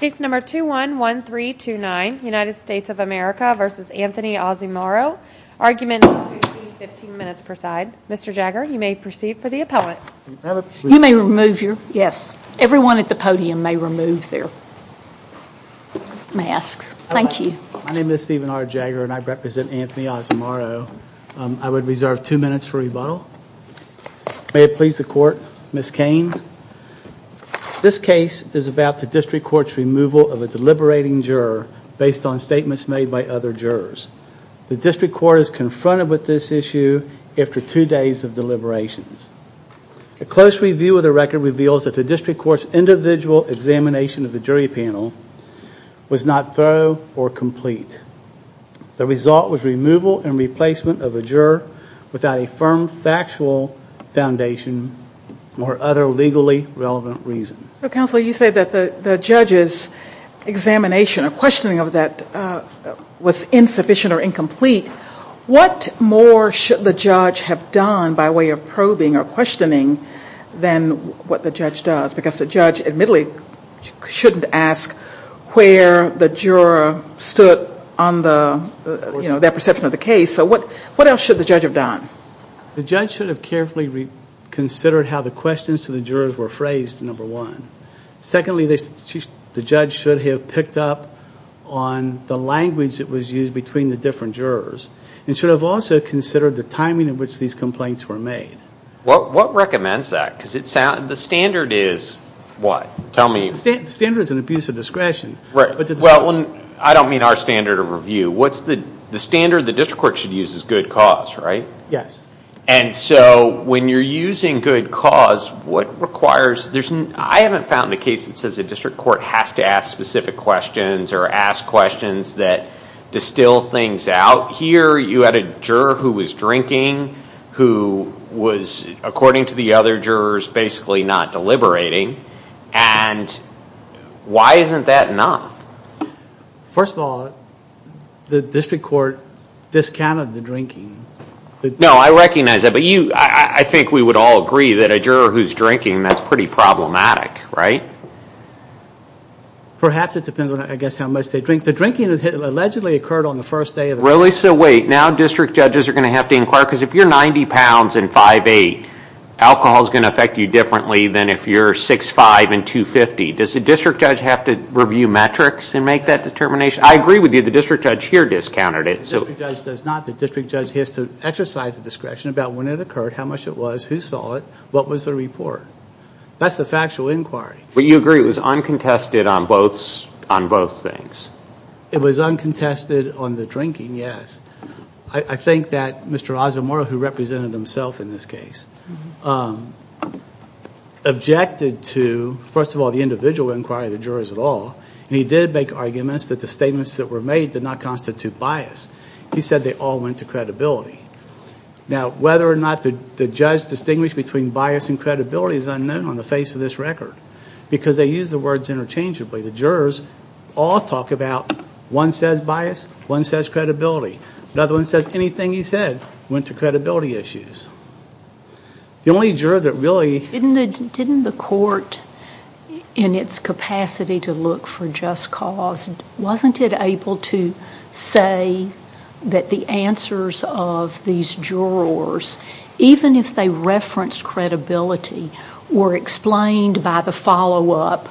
Case number 211329, United States of America v. Anthony Ozomaro, argument 15 minutes per side. Mr. Jagger, you may proceed for the appellate. You may remove your, yes, everyone at the podium may remove their masks. Thank you. My name is Stephen R. Jagger and I represent Anthony Ozomaro. I would reserve two minutes for rebuttal. May it please the court, Ms. Cain. This case is about the District Court's removal of a deliberating juror based on statements made by other jurors. The District Court is confronted with this issue after two days of deliberations. A close review of the record reveals that the District Court's individual examination of the jury panel was not thorough or complete. The result was removal and replacement of a juror without a firm factual foundation or other legally relevant reason. Counsel, you say that the judge's examination or questioning of that was insufficient or incomplete. What more should the judge have done by way of probing or questioning than what the judge does? Because the judge admittedly shouldn't ask where the juror stood on that perception of the case. So what else should the judge have done? The judge should have carefully considered how the questions to the jurors were phrased, number one. Secondly, the judge should have picked up on the language that was used between the different jurors and should have also considered the timing in which these complaints were made. What recommends that? Because the standard is what? The standard is an abuse of discretion. Well, I don't mean our standard of review. The standard the District Court should use is good cause, right? Yes. And so when you're using good cause, what requires – I haven't found a case that says the District Court has to ask specific questions or ask questions that distill things out. Here you had a juror who was drinking who was, according to the other jurors, basically not deliberating. And why isn't that enough? First of all, the District Court discounted the drinking. No, I recognize that. But I think we would all agree that a juror who's drinking, that's pretty problematic, right? Perhaps it depends on, I guess, how much they drink. The drinking allegedly occurred on the first day of the – Really? So wait. Now district judges are going to have to inquire, because if you're 90 pounds and 5'8", alcohol is going to affect you differently than if you're 6'5 and 250. Does the district judge have to review metrics and make that determination? I agree with you. The district judge here discounted it. The district judge does not. The district judge has to exercise discretion about when it occurred, how much it was, who saw it, what was the report. That's the factual inquiry. But you agree it was uncontested on both things? It was uncontested on the drinking, yes. I think that Mr. Azamora, who represented himself in this case, objected to, first of all, the individual inquiry, the jurors at all, and he did make arguments that the statements that were made did not constitute bias. He said they all went to credibility. Now whether or not the judge distinguished between bias and credibility is unknown on the face of this record, because they use the words interchangeably. The jurors all talk about one says bias, one says credibility. Another one says anything he said went to credibility issues. The only juror that really – Didn't the court, in its capacity to look for just cause, wasn't it able to say that the answers of these jurors, even if they referenced credibility, were explained by the follow-up?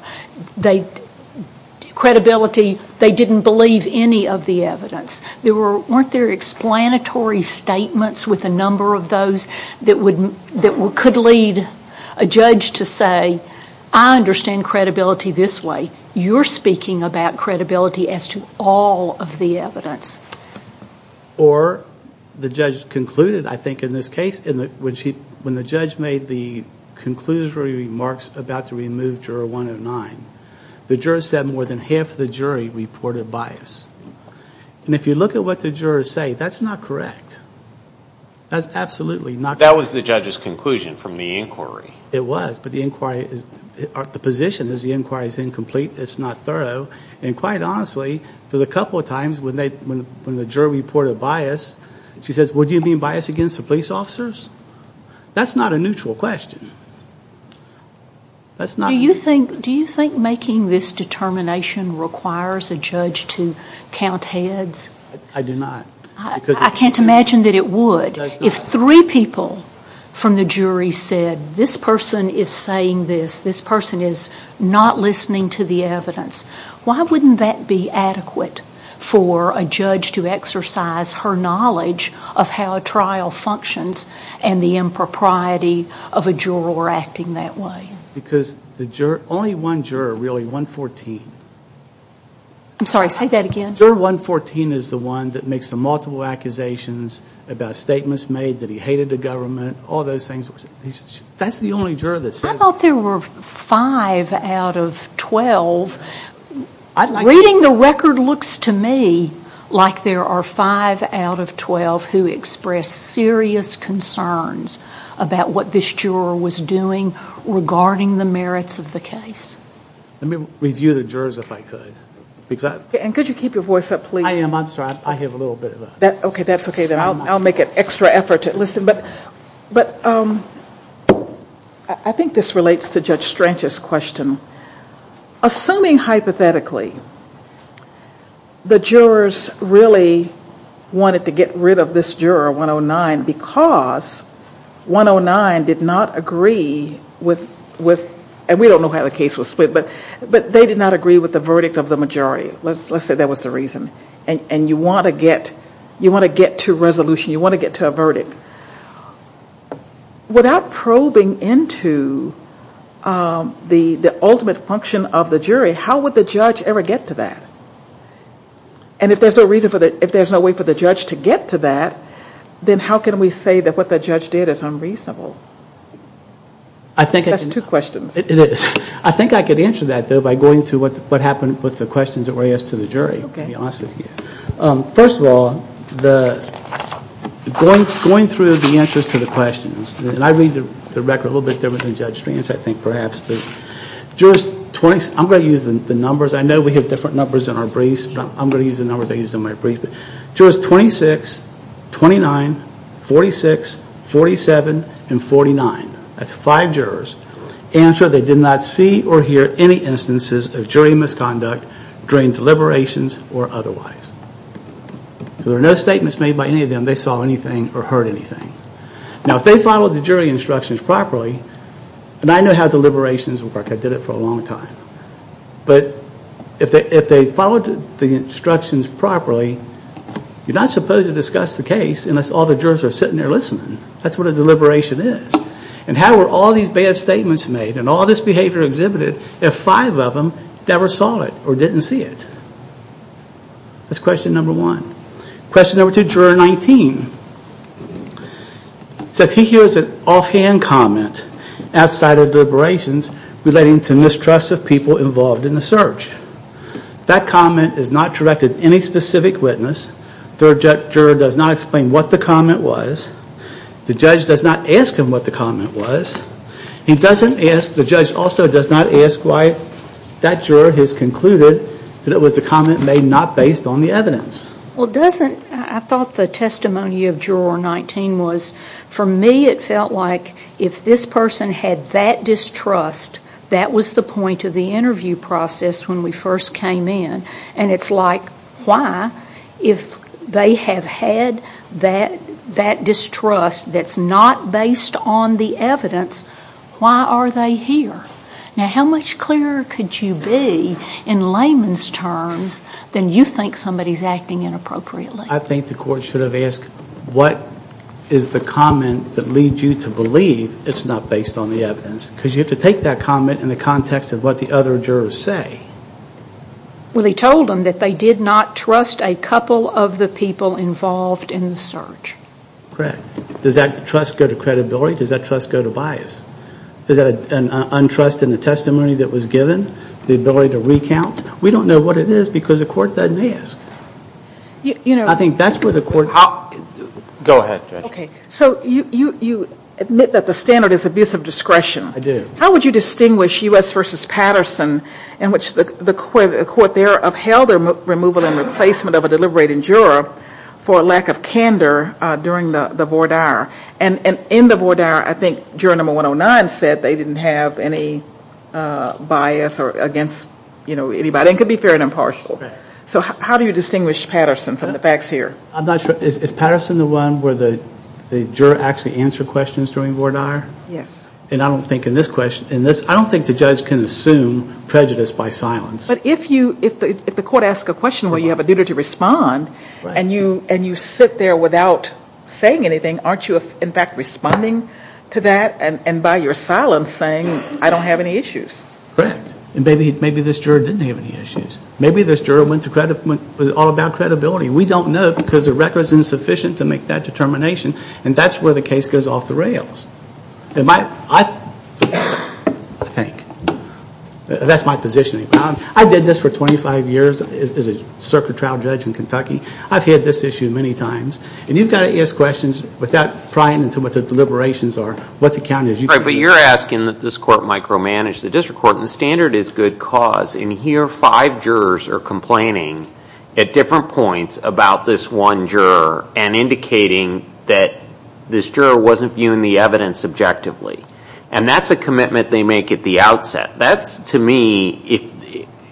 Credibility, they didn't believe any of the evidence. Weren't there explanatory statements with a number of those that could lead a judge to say, I understand credibility this way. You're speaking about credibility as to all of the evidence. Or the judge concluded, I think in this case, when the judge made the conclusory remarks about the removed juror 109, the juror said more than half of the jury reported bias. And if you look at what the jurors say, that's not correct. That's absolutely not correct. That was the judge's conclusion from the inquiry. It was, but the position is the inquiry is incomplete, it's not thorough. And quite honestly, there's a couple of times when the juror reported bias, she says, well, do you mean bias against the police officers? That's not a neutral question. That's not. Do you think making this determination requires a judge to count heads? I do not. I can't imagine that it would. It does not. If three people from the jury said, this person is saying this, this person is not listening to the evidence, why wouldn't that be adequate for a judge to exercise her knowledge of how a trial functions and the impropriety of a juror acting that way? Because the juror, only one juror, really, 114. I'm sorry, say that again. Juror 114 is the one that makes the multiple accusations about statements made, that he hated the government, all those things. That's the only juror that says that. I thought there were five out of 12. Reading the record looks to me like there are five out of 12 who express serious concerns about what this juror was doing regarding the merits of the case. Let me review the jurors, if I could. Could you keep your voice up, please? I am. I'm sorry. I have a little bit of a... Okay, that's okay. I'll make an extra effort to listen. I think this relates to Judge Strange's question. Assuming hypothetically the jurors really wanted to get rid of this juror, 109, because 109 did not agree with, and we don't know how the case was split, but they did not agree with the verdict of the majority. Let's say that was the reason. And you want to get to resolution. You want to get to a verdict. Without probing into the ultimate function of the jury, how would the judge ever get to that? And if there's no way for the judge to get to that, then how can we say that what the judge did is unreasonable? That's two questions. It is. I think I could answer that, though, by going through what happened with the questions that were asked to the jury. First of all, going through the answers to the questions, and I read the record a little bit different than Judge Strange, I think, perhaps. I'm going to use the numbers. I know we have different numbers in our briefs, but I'm going to use the numbers I used in my brief. Jurors 26, 29, 46, 47, and 49. That's five jurors. Answer, they did not see or hear any instances of jury misconduct during deliberations or otherwise. So there were no statements made by any of them. They saw anything or heard anything. Now, if they followed the jury instructions properly, and I know how deliberations work. I did it for a long time. But if they followed the instructions properly, you're not supposed to discuss the case unless all the jurors are sitting there listening. That's what a deliberation is. And how were all these bad statements made and all this behavior exhibited if five of them never saw it or didn't see it? That's question number one. Question number two, Juror 19. It says he hears an offhand comment outside of deliberations relating to mistrust of people involved in the search. That comment is not directed at any specific witness. The third juror does not explain what the comment was. The judge does not ask him what the comment was. The judge also does not ask why that juror has concluded that it was a comment made not based on the evidence. I thought the testimony of Juror 19 was, for me it felt like if this person had that distrust, that was the point of the interview process when we first came in. And it's like, why, if they have had that distrust that's not based on the evidence, why are they here? Now, how much clearer could you be in layman's terms than you think somebody's acting inappropriately? I think the court should have asked, what is the comment that leads you to believe it's not based on the evidence? Because you have to take that comment in the context of what the other jurors say. Well, he told them that they did not trust a couple of the people involved in the search. Correct. Does that trust go to credibility? Does that trust go to bias? Is that an untrust in the testimony that was given? The ability to recount? We don't know what it is because the court doesn't ask. I think that's where the court... Go ahead, Judge. Okay, so you admit that the standard is abuse of discretion. I do. How would you distinguish U.S. v. Patterson, in which the court there upheld the removal and replacement of a deliberating juror for lack of candor during the voir dire? And in the voir dire, I think juror number 109 said they didn't have any bias or against anybody. It could be fair and impartial. So how do you distinguish Patterson from the facts here? I'm not sure. Is Patterson the one where the juror actually answered questions during voir dire? Yes. And I don't think in this question... I don't think the judge can assume prejudice by silence. But if the court asks a question where you have a duty to respond and you sit there without saying anything, aren't you in fact responding to that and by your silence saying, I don't have any issues? Correct. And maybe this juror didn't have any issues. Maybe this juror was all about credibility. We don't know because the record is insufficient to make that determination, and that's where the case goes off the rails. I think. That's my position. I did this for 25 years as a circuit trial judge in Kentucky. I've had this issue many times. And you've got to ask questions without prying into what the deliberations are, what the count is. But you're asking that this court micromanage the district court, and the standard is good cause. And here five jurors are complaining at different points about this one juror and indicating that this juror wasn't viewing the evidence objectively. And that's a commitment they make at the outset. That's to me,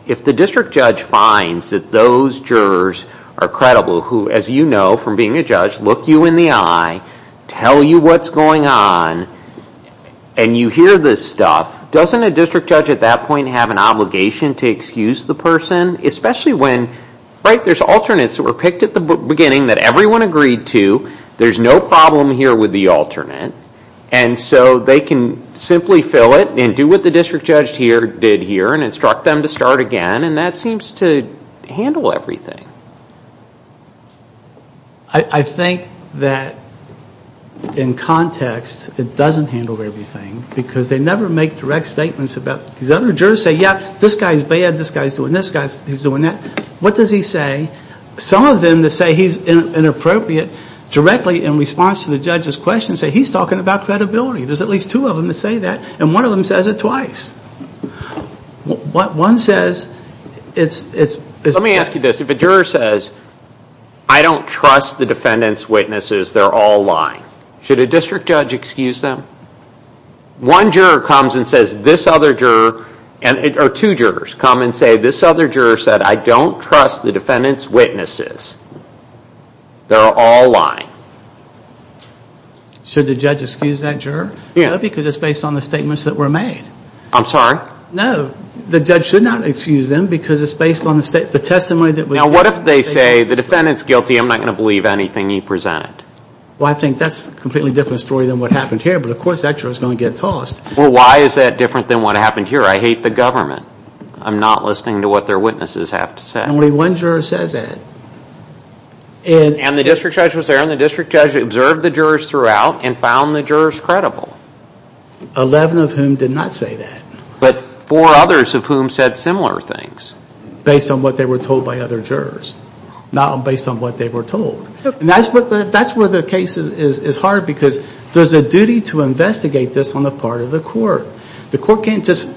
if the district judge finds that those jurors are credible, who as you know from being a judge, look you in the eye, tell you what's going on, and you hear this stuff, doesn't a district judge at that point have an obligation to excuse the person? Especially when, right, there's alternates that were picked at the beginning that everyone agreed to. There's no problem here with the alternate. And so they can simply fill it and do what the district judge did here and instruct them to start again. And that seems to handle everything. I think that in context it doesn't handle everything because they never make direct statements. These other jurors say, yeah, this guy's bad, this guy's doing this, this guy's doing that. What does he say? Some of them that say he's inappropriate directly in response to the judge's talking about credibility. There's at least two of them that say that, and one of them says it twice. One says it's... Let me ask you this. If a juror says, I don't trust the defendant's witnesses, they're all lying. Should a district judge excuse them? One juror comes and says this other juror, or two jurors come and say, this other juror said I don't trust the defendant's witnesses. They're all lying. Should the judge excuse that juror? No, because it's based on the statements that were made. I'm sorry? No, the judge should not excuse them because it's based on the testimony that we have. Now, what if they say the defendant's guilty, I'm not going to believe anything he presented? Well, I think that's a completely different story than what happened here, but of course that juror's going to get tossed. Well, why is that different than what happened here? I hate the government. I'm not listening to what their witnesses have to say. Only one juror says that. And the district judge was there and the district judge observed the jurors throughout and found the jurors credible. Eleven of whom did not say that. But four others of whom said similar things. Based on what they were told by other jurors, not based on what they were told. That's where the case is hard because there's a duty to investigate this on the part of the court. The court can't just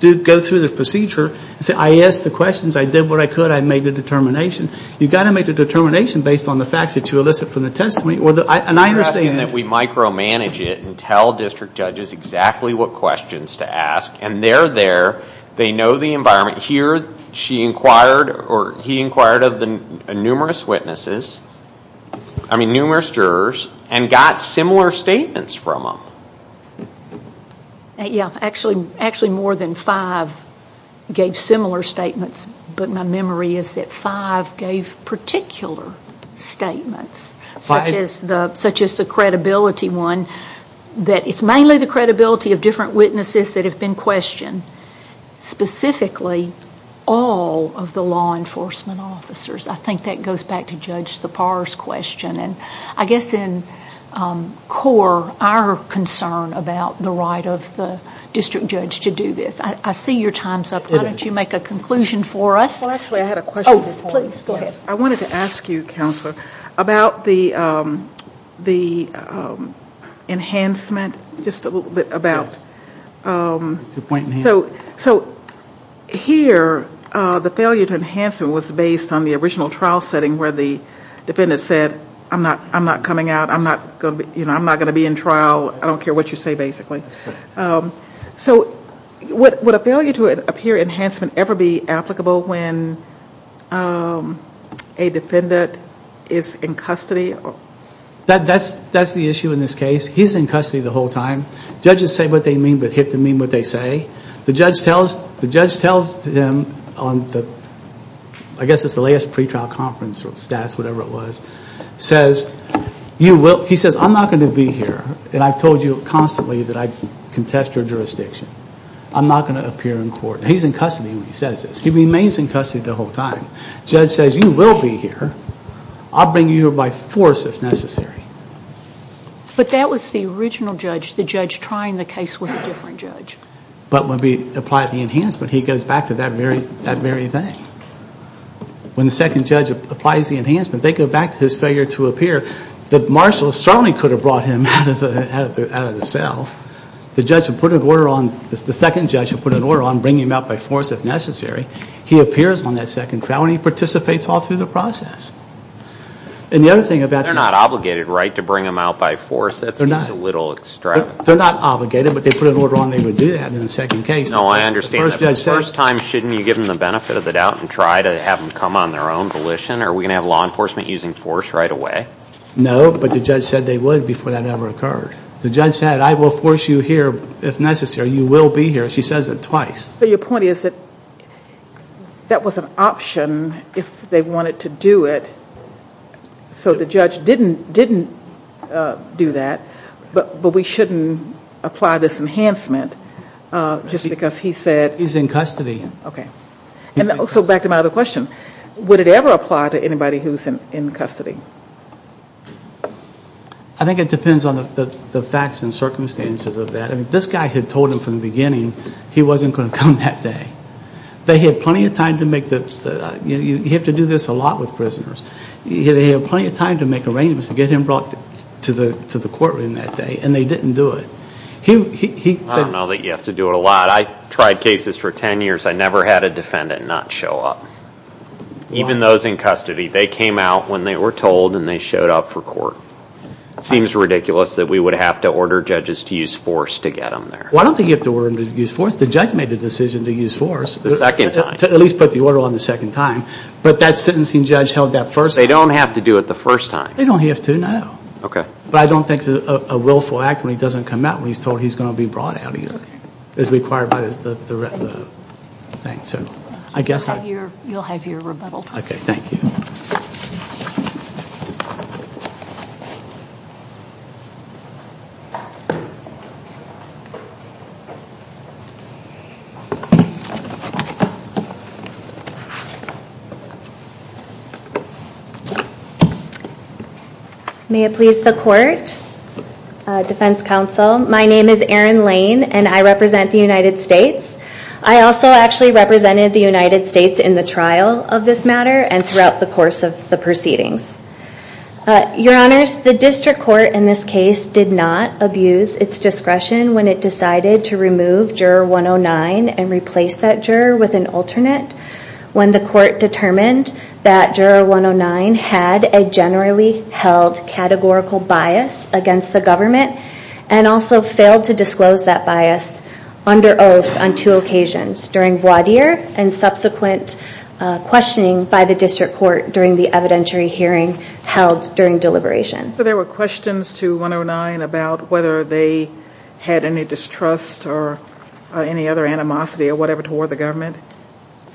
go through the procedure and say, I asked the questions, I did what I could, I made the determination. You've got to make the determination based on the facts that you elicit from the testimony. You're asking that we micromanage it and tell district judges exactly what questions to ask, and they're there, they know the environment. Here, he inquired of numerous jurors and got similar statements from them. Actually, more than five gave similar statements, but my memory is that five gave particular statements, such as the credibility one. It's mainly the credibility of different witnesses that have been questioned. Specifically, all of the law enforcement officers. I think that goes back to Judge Thapar's question. I guess in core, our concern about the right of the district judge to do this. I see your time's up. Why don't you make a conclusion for us? Actually, I had a question. Oh, please, go ahead. I wanted to ask you, Counselor, about the enhancement, just a little bit about. Here, the failure to enhancement was based on the original trial setting where the defendant said, I'm not coming out, I'm not going to be in trial, I don't care what you say, basically. Would a failure to appear enhancement ever be applicable when a defendant is in custody? That's the issue in this case. He's in custody the whole time. Judges say what they mean, but HIPTA mean what they say. The judge tells him, I guess it's the last pretrial conference or status, whatever it was, he says, I'm not going to be here, and I've told you constantly that I contest your jurisdiction. I'm not going to appear in court. He's in custody when he says this. He remains in custody the whole time. Judge says, you will be here. I'll bring you here by force if necessary. But that was the original judge. The judge trying the case was a different judge. But when we apply the enhancement, he goes back to that very thing. When the second judge applies the enhancement, they go back to his failure to appear. The marshal certainly could have brought him out of the cell. The judge would put an order on, the second judge would put an order on bringing him out by force if necessary. He appears on that second trial, and he participates all through the process. They're not obligated, right, to bring him out by force? That seems a little extravagant. They're not obligated, but they put an order on they would do that in the second case. No, I understand that. The first time, shouldn't you give them the benefit of the doubt and try to have them come on their own volition? Are we going to have law enforcement using force right away? No, but the judge said they would before that ever occurred. The judge said, I will force you here if necessary. You will be here. She says it twice. Your point is that that was an option if they wanted to do it, so the judge didn't do that, but we shouldn't apply this enhancement just because he said. He's in custody. Okay. So back to my other question. Would it ever apply to anybody who's in custody? I think it depends on the facts and circumstances of that. This guy had told him from the beginning he wasn't going to come that day. They had plenty of time to make the, you have to do this a lot with prisoners. They had plenty of time to make arrangements to get him brought to the courtroom that day, and they didn't do it. I don't know that you have to do it a lot. I tried cases for 10 years. I never had a defendant not show up. Even those in custody, they came out when they were told and they showed up for court. It seems ridiculous that we would have to order judges to use force to get them there. Well, I don't think you have to order them to use force. The judge made the decision to use force. The second time. To at least put the order on the second time, but that sentencing judge held that first time. They don't have to do it the first time. They don't have to, no. Okay. But I don't think it's a willful act when he doesn't come out when he's told he's going to be brought out either. Okay. It's required by the thing. You'll have your rebuttal time. Okay. Thank you. Thank you. May it please the court, defense counsel. My name is Erin Lane and I represent the United States. I also actually represented the United States in the trial of this matter and throughout the course of the proceedings. Your honors, the district court in this case did not abuse its discretion when it decided to remove juror 109 and replace that juror with an alternate. When the court determined that juror 109 had a generally held categorical bias against the government and also failed to disclose that bias under oath on two occasions. During voir dire and subsequent questioning by the district court during the evidentiary hearing held during deliberations. So there were questions to 109 about whether they had any distrust or any other animosity or whatever toward the government?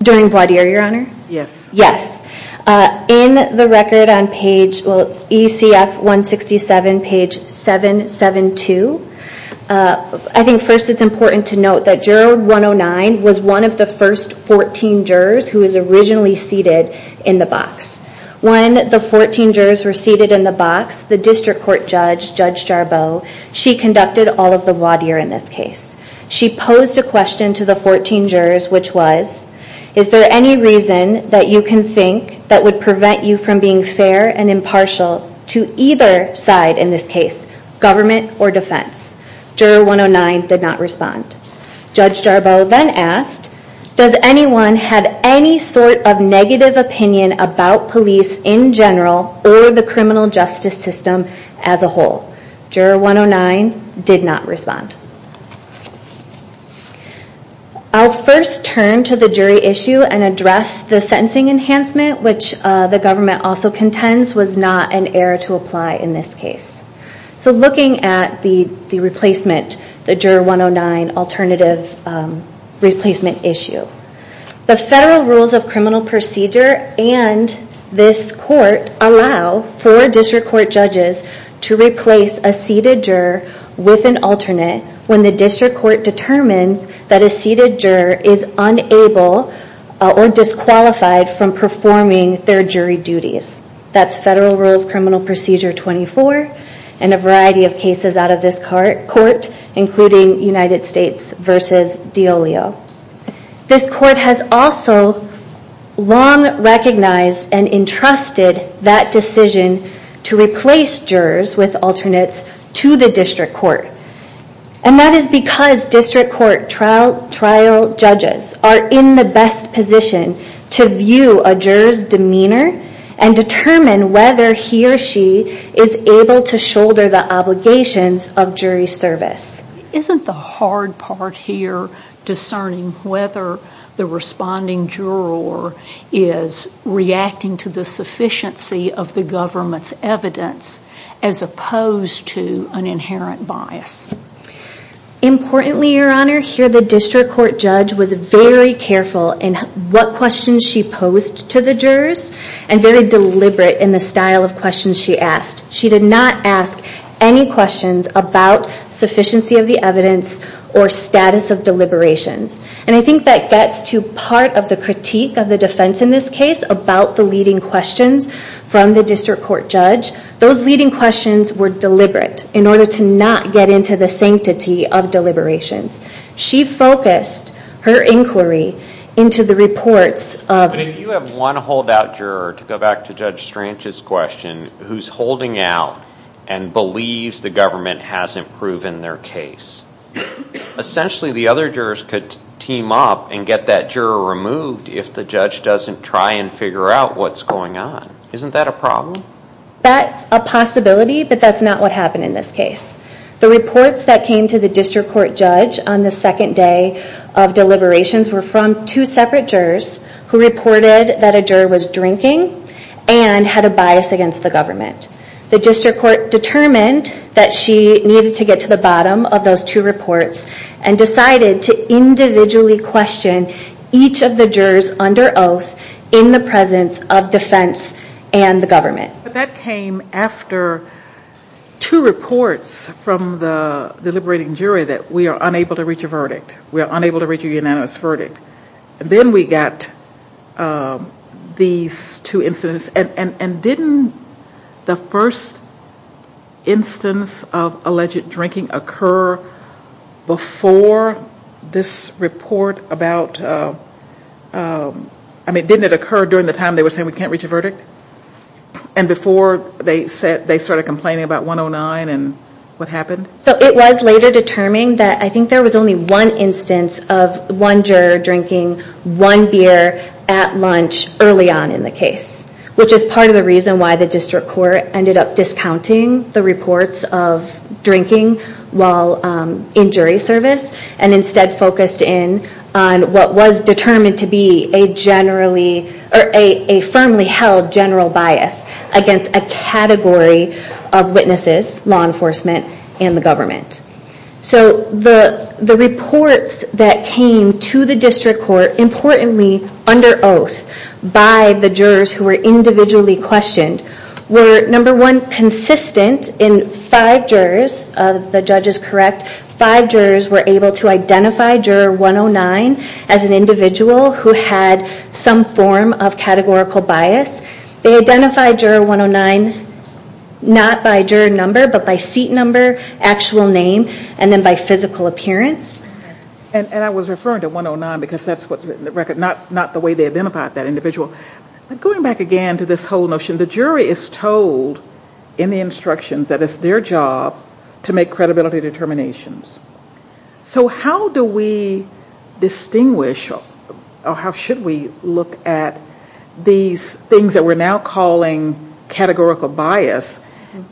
During voir dire, your honor? Yes. Yes. In the record on page, well, ECF 167, page 772. I think first it's important to note that juror 109 was one of the first 14 jurors who was originally seated in the box. When the 14 jurors were seated in the box, the district court judge, Judge Jarboe, she conducted all of the voir dire in this case. She posed a question to the 14 jurors, which was, is there any reason that you can think that would prevent you from being fair and impartial to either side in this case, government or defense? Juror 109 did not respond. Judge Jarboe then asked, does anyone have any sort of negative opinion about police in general or the criminal justice system as a whole? Juror 109 did not respond. I'll first turn to the jury issue and address the sentencing enhancement, which the government also contends was not an error to apply in this case. So looking at the replacement, the juror 109 alternative replacement issue. The federal rules of criminal procedure and this court allow for district court judges to replace a seated juror with an alternate when the district court determines that a seated juror is unable or disqualified from performing their jury duties. That's federal rule of criminal procedure 24 and a variety of cases out of this court, including United States versus Diolio. This court has also long recognized and entrusted that decision to replace jurors with alternates to the district court. And that is because district court trial trial judges are in the best position to view a juror's demeanor and determine whether he or she is able to shoulder the obligations of jury service. Isn't the hard part here discerning whether the responding juror is reacting to the sufficiency of the government's evidence as opposed to an inherent bias? Importantly, Your Honor, here the district court judge was very careful in what questions she posed to the jurors and very deliberate in the style of questions she asked. She did not ask any questions about sufficiency of the evidence or status of deliberations. And I think that gets to part of the critique of the defense in this case about the leading questions from the district court judge. Those leading questions were deliberate in order to not get into the sanctity of deliberations. She focused her inquiry into the reports of... But if you have one holdout juror, to go back to Judge Strange's question, who's holding out and believes the government hasn't proven their case, essentially the other jurors could team up and get that juror removed if the judge doesn't try and figure out what's going on. Isn't that a problem? That's a possibility, but that's not what happened in this case. The reports that came to the district court judge on the second day of deliberations were from two separate jurors who reported that a juror was drinking and had a bias against the government. The district court determined that she needed to get to the bottom of those two reports and decided to individually question each of the jurors under oath in the presence of defense and the government. But that came after two reports from the deliberating jury that we are unable to reach a verdict. We are unable to reach a unanimous verdict. Then we got these two incidents. And didn't the first instance of alleged drinking occur before this report about... Didn't it occur during the time they were saying we can't reach a verdict? And before they started complaining about 109 and what happened? It was later determined that I think there was only one instance of one juror drinking one beer at lunch early on in the case, which is part of the reason why the district court ended up discounting the reports of drinking while in jury service and instead focused in on what was determined to be a firmly held general bias against a category of witnesses, law enforcement, and the government. So the reports that came to the district court, importantly under oath, by the jurors who were individually questioned were, number one, consistent in five jurors, if the judge is correct, five jurors were able to identify juror 109 as an individual who had some form of categorical bias. They identified juror 109 not by juror number but by seat number, actual name, and then by physical appearance. And I was referring to 109 because that's not the way they identified that individual. But going back again to this whole notion, the jury is told in the instructions that it's their job to make credibility determinations. So how do we distinguish or how should we look at these things that we're now calling categorical bias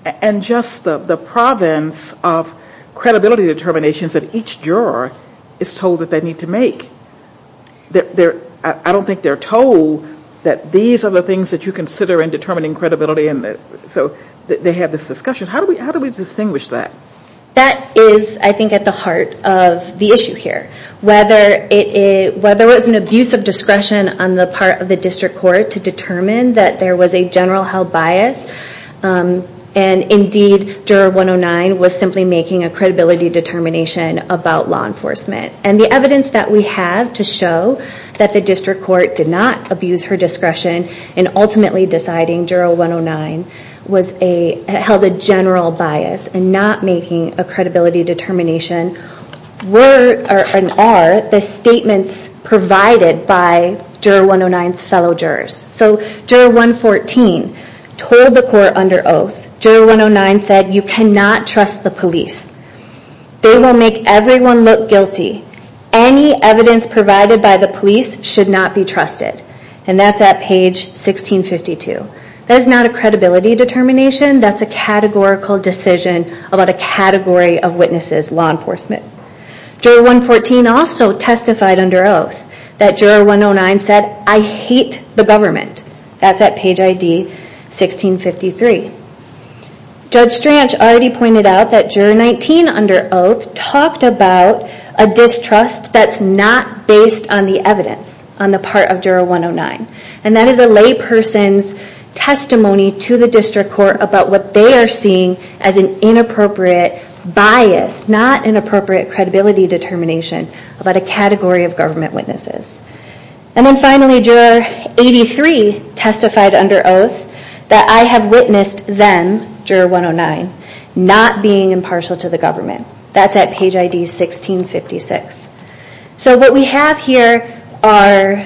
and just the province of credibility determinations that each juror is told that they need to make? I don't think they're told that these are the things that you consider in determining credibility. So they have this discussion. How do we distinguish that? That is, I think, at the heart of the issue here. Whether it was an abuse of discretion on the part of the district court to determine that there was a general held bias and indeed juror 109 was simply making a credibility determination about law enforcement. And the evidence that we have to show that the district court did not abuse her discretion in ultimately deciding juror 109 held a general bias and not making a credibility determination were and are the statements provided by juror 109's fellow jurors. So juror 114 told the court under oath, juror 109 said, you cannot trust the police. They will make everyone look guilty. Any evidence provided by the police should not be trusted. And that's at page 1652. That is not a credibility determination. That's a categorical decision about a category of witnesses, law enforcement. Juror 114 also testified under oath that juror 109 said, I hate the government. That's at page ID 1653. Judge Strach already pointed out that juror 19 under oath talked about a distrust that's not based on the evidence on the part of juror 109. And that is a lay person's testimony to the district court about what they are seeing as an inappropriate bias, not an appropriate credibility determination about a category of government witnesses. And then finally, juror 83 testified under oath that I have witnessed them, juror 109, not being impartial to the government. That's at page ID 1656. So what we have here are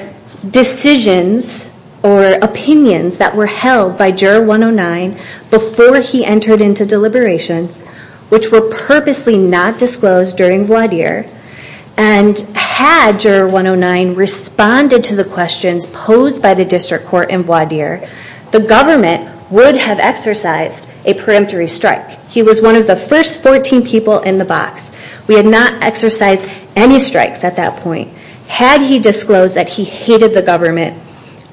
decisions or opinions that were held by juror 109 before he entered into deliberations, which were purposely not disclosed during voir dire, and had juror 109 responded to the questions posed by the district court in voir dire, the government would have exercised a peremptory strike. He was one of the first 14 people in the box. We had not exercised any strikes at that point. Had he disclosed that he hated the government,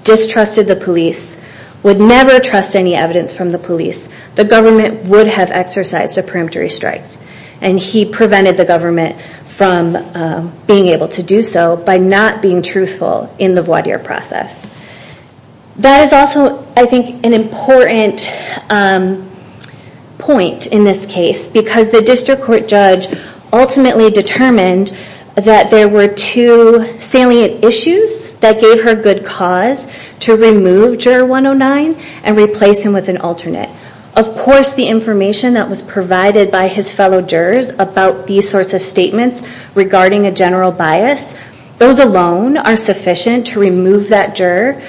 distrusted the police, would never trust any evidence from the police, the government would have exercised a peremptory strike. And he prevented the government from being able to do so by not being truthful in the voir dire process. That is also, I think, an important point in this case, because the district court judge ultimately determined that there were two salient issues that gave her good cause to remove juror 109 and replace him with an alternate. Of course, the information that was provided by his fellow jurors about these sorts of statements regarding a general bias, those alone are sufficient to remove that juror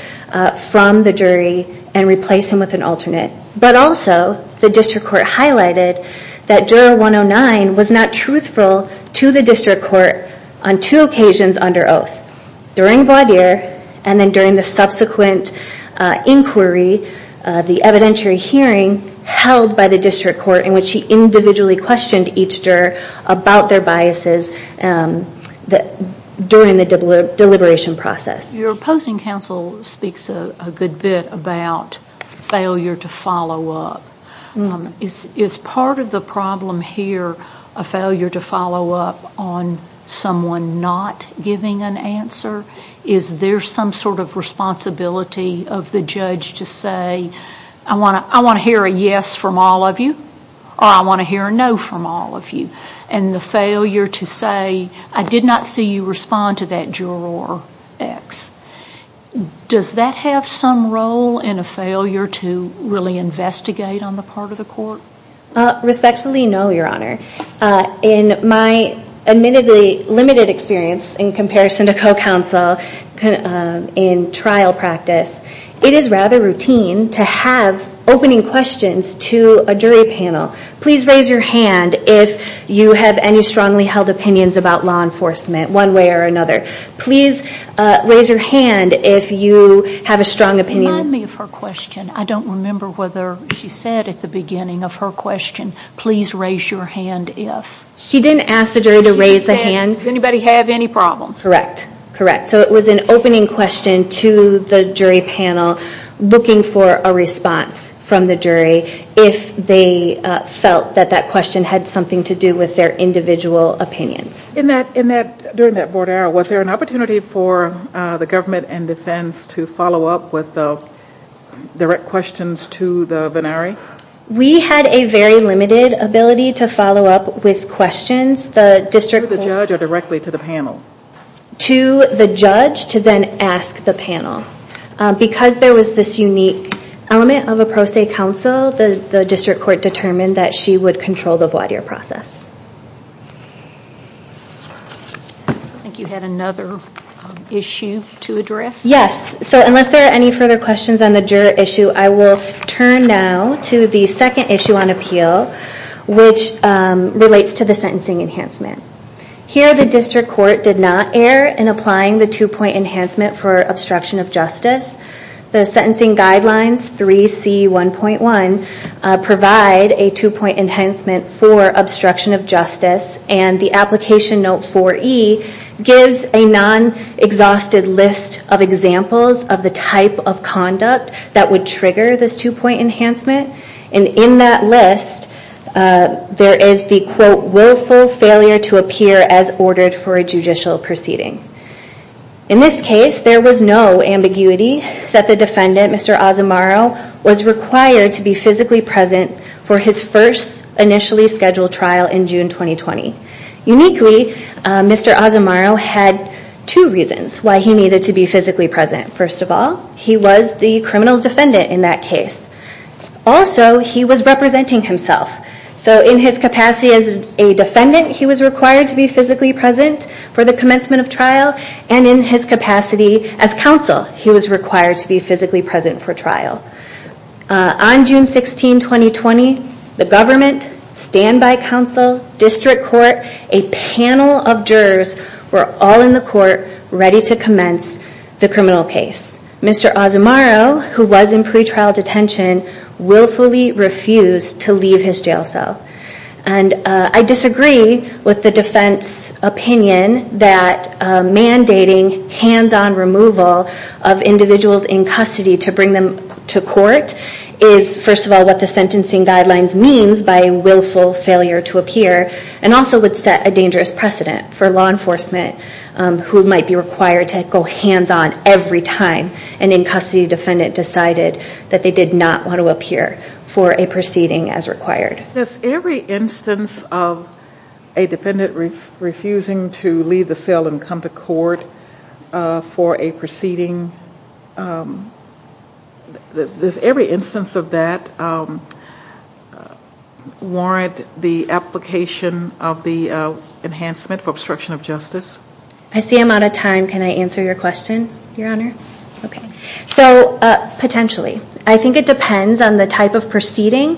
from the jury and replace him with an alternate. But also, the district court highlighted that juror 109 was not truthful to the district court on two occasions under oath. During voir dire and then during the subsequent inquiry, the evidentiary hearing held by the district court in which he individually questioned each juror about their biases during the deliberation process. Your opposing counsel speaks a good bit about failure to follow up. Is part of the problem here a failure to follow up on someone not giving an answer? Is there some sort of responsibility of the judge to say, I want to hear a yes from all of you or I want to hear a no from all of you? And the failure to say, I did not see you respond to that juror X. Does that have some role in a failure to really investigate on the part of the court? Respectfully, no, Your Honor. In my admittedly limited experience in comparison to co-counsel in trial practice, it is rather routine to have opening questions to a jury panel. Please raise your hand if you have any strongly held opinions about law enforcement one way or another. Please raise your hand if you have a strong opinion. Remind me of her question. I don't remember whether she said at the beginning of her question, please raise your hand if. She didn't ask the jury to raise a hand. Does anybody have any problems? Correct. Correct. So it was an opening question to the jury panel looking for a response from the jury if they felt that that question had something to do with their individual opinions. During that board hour, was there an opportunity for the government and defense to follow up with direct questions to the venari? We had a very limited ability to follow up with questions. To the judge or directly to the panel? To the judge to then ask the panel. Because there was this unique element of a pro se counsel, the district court determined that she would control the voir dire process. I think you had another issue to address. Yes. So unless there are any further questions on the juror issue, I will turn now to the second issue on appeal, which relates to the sentencing enhancement. Here the district court did not err in applying the two-point enhancement for obstruction of justice. The sentencing guidelines, 3C1.1, provide a two-point enhancement for obstruction of justice, and the application note 4E gives a non-exhausted list of examples of the type of conduct that would trigger this two-point enhancement. And in that list, there is the, quote, willful failure to appear as ordered for a judicial proceeding. In this case, there was no ambiguity that the defendant, Mr. Asamaro, was required to be physically present for his first initially scheduled trial in June 2020. Uniquely, Mr. Asamaro had two reasons why he needed to be physically present. First of all, he was the criminal defendant in that case. Also, he was representing himself. So in his capacity as a defendant, he was required to be physically present for the commencement of trial, and in his capacity as counsel, he was required to be physically present for trial. On June 16, 2020, the government, standby counsel, district court, a panel of jurors were all in the court ready to commence the criminal case. Mr. Asamaro, who was in pretrial detention, willfully refused to leave his jail cell. And I disagree with the defense opinion that mandating hands-on removal of individuals in custody to bring them to court is, first of all, what the sentencing guidelines means by willful failure to appear, and also would set a dangerous precedent for law enforcement who might be required to go hands-on every time an in-custody defendant decided that they did not want to appear for a proceeding as required. Does every instance of a defendant refusing to leave the cell and come to court for a proceeding, does every instance of that warrant the application of the enhancement for obstruction of justice? I see I'm out of time. Can I answer your question, Your Honor? So, potentially. I think it depends on the type of proceeding.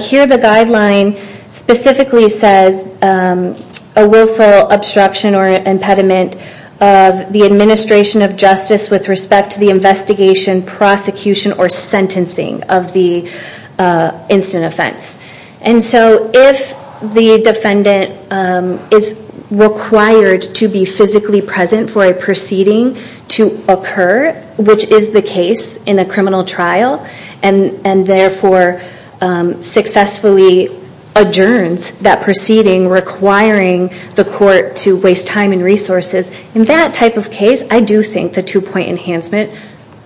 Here the guideline specifically says a willful obstruction or impediment of the administration of justice with respect to the investigation, prosecution, or sentencing of the incident offense. And so if the defendant is required to be physically present for a proceeding to occur, which is the case in a criminal trial, and therefore successfully adjourns that proceeding requiring the court to waste time and resources, in that type of case, I do think the two-point enhancement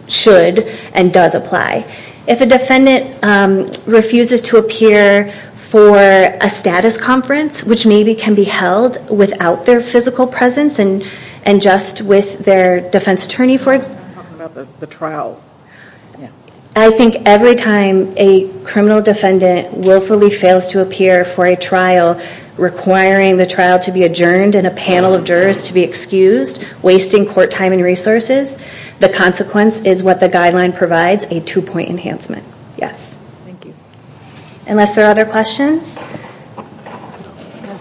should and does apply. If a defendant refuses to appear for a status conference, which maybe can be held without their physical presence and just with their defense attorney, for example. I'm talking about the trial. I think every time a criminal defendant willfully fails to appear for a trial requiring the trial to be adjourned and a panel of jurors to be excused, wasting court time and resources, the consequence is what the guideline provides, a two-point enhancement. Yes. Thank you. Unless there are other questions? No,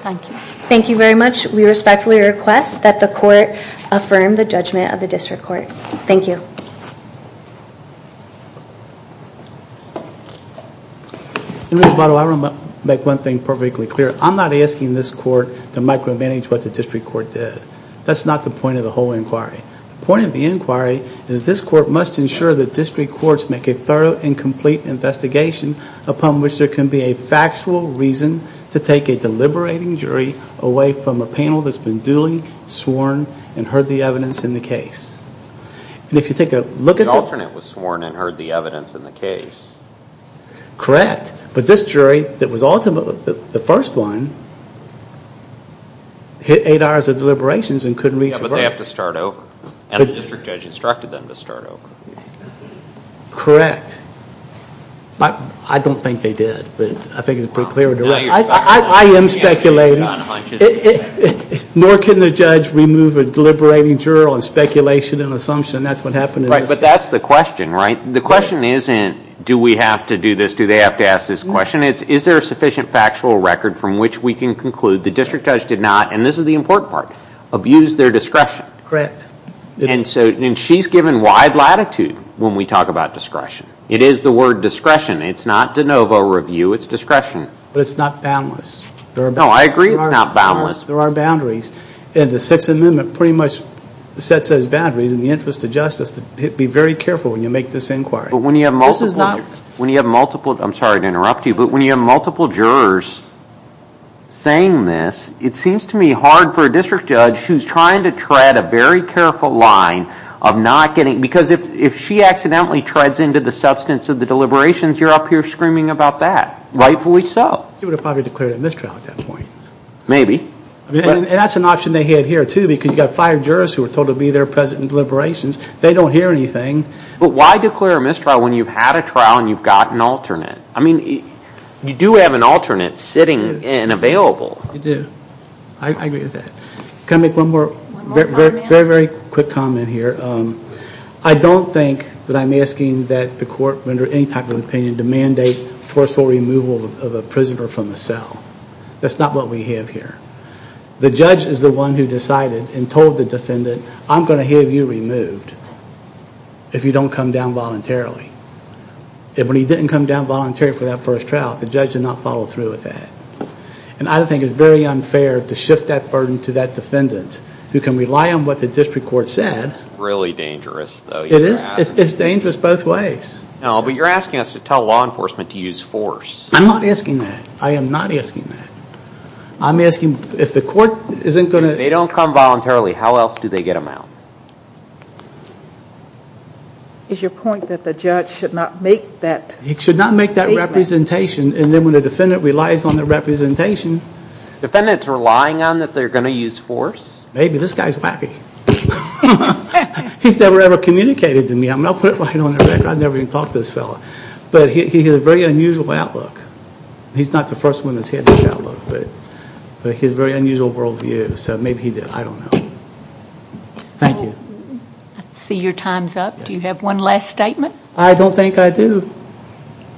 thank you. Thank you very much. We respectfully request that the court affirm the judgment of the district court. Thank you. And by the way, I want to make one thing perfectly clear. I'm not asking this court to micromanage what the district court did. That's not the point of the whole inquiry. The point of the inquiry is this court must ensure the district courts make a thorough and complete investigation upon which there can be a factual reason to take a deliberating jury away from a panel that's been duly sworn and heard the evidence in the case. The alternate was sworn and heard the evidence in the case. Correct. But this jury, the first one, hit eight hours of deliberations and couldn't reach a verdict. But they have to start over. And the district judge instructed them to start over. Correct. I don't think they did. I think it's pretty clear. I am speculating. Nor can the judge remove a deliberating jury on speculation and assumption. That's what happened in this case. But that's the question, right? The question isn't do we have to do this, do they have to ask this question. It's is there a sufficient factual record from which we can conclude the district judge did not, and this is the important part, abuse their discretion. Correct. And she's given wide latitude when we talk about discretion. It is the word discretion. It's not de novo review. It's discretion. But it's not boundless. No, I agree it's not boundless. There are boundaries. And the Sixth Amendment pretty much sets those boundaries in the interest of justice to be very careful when you make this inquiry. But when you have multiple, I'm sorry to interrupt you, but when you have multiple jurors saying this, it seems to me hard for a district judge who's trying to tread a very careful line of not getting, because if she accidentally treads into the substance of the deliberations, you're up here screaming about that. Rightfully so. She would have probably declared a mistrial at that point. Maybe. And that's an option they had here, too, because you've got five jurors who were told to be there present in deliberations. They don't hear anything. But why declare a mistrial when you've had a trial and you've got an alternate? I mean, you do have an alternate sitting and available. You do. I agree with that. Can I make one more very, very quick comment here? I don't think that I'm asking that the court render any type of opinion to mandate forceful removal of a prisoner from the cell. That's not what we have here. The judge is the one who decided and told the defendant, I'm going to have you removed if you don't come down voluntarily. And when he didn't come down voluntarily for that first trial, the judge did not follow through with that. And I think it's very unfair to shift that burden to that defendant who can rely on what the district court said. Really dangerous, though. It is. It's dangerous both ways. No, but you're asking us to tell law enforcement to use force. I'm not asking that. I am not asking that. I'm asking if the court isn't going to... If they don't come voluntarily, how else do they get them out? Is your point that the judge should not make that statement? He should not make that representation. And then when the defendant relies on that representation... Defendant's relying on that they're going to use force? Maybe. This guy's wacky. He's never, ever communicated to me. I'm going to put it right on the record. I've never even talked to this fella. But he has a very unusual outlook. He's not the first one that's had this outlook. But he has a very unusual world view. So maybe he did. I don't know. Thank you. I see your time's up. Do you have one last statement? I don't think I do.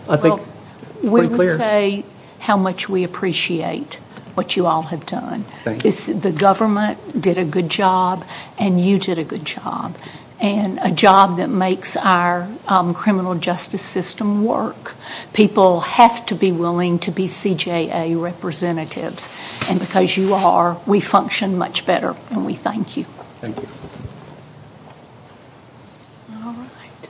I think it's pretty clear. We would say how much we appreciate what you all have done. Thank you. The government did a good job, and you did a good job. And a job that makes our criminal justice system work. People have to be willing to be CJA representatives. And because you are, we function much better. And we thank you. Thank you. All right.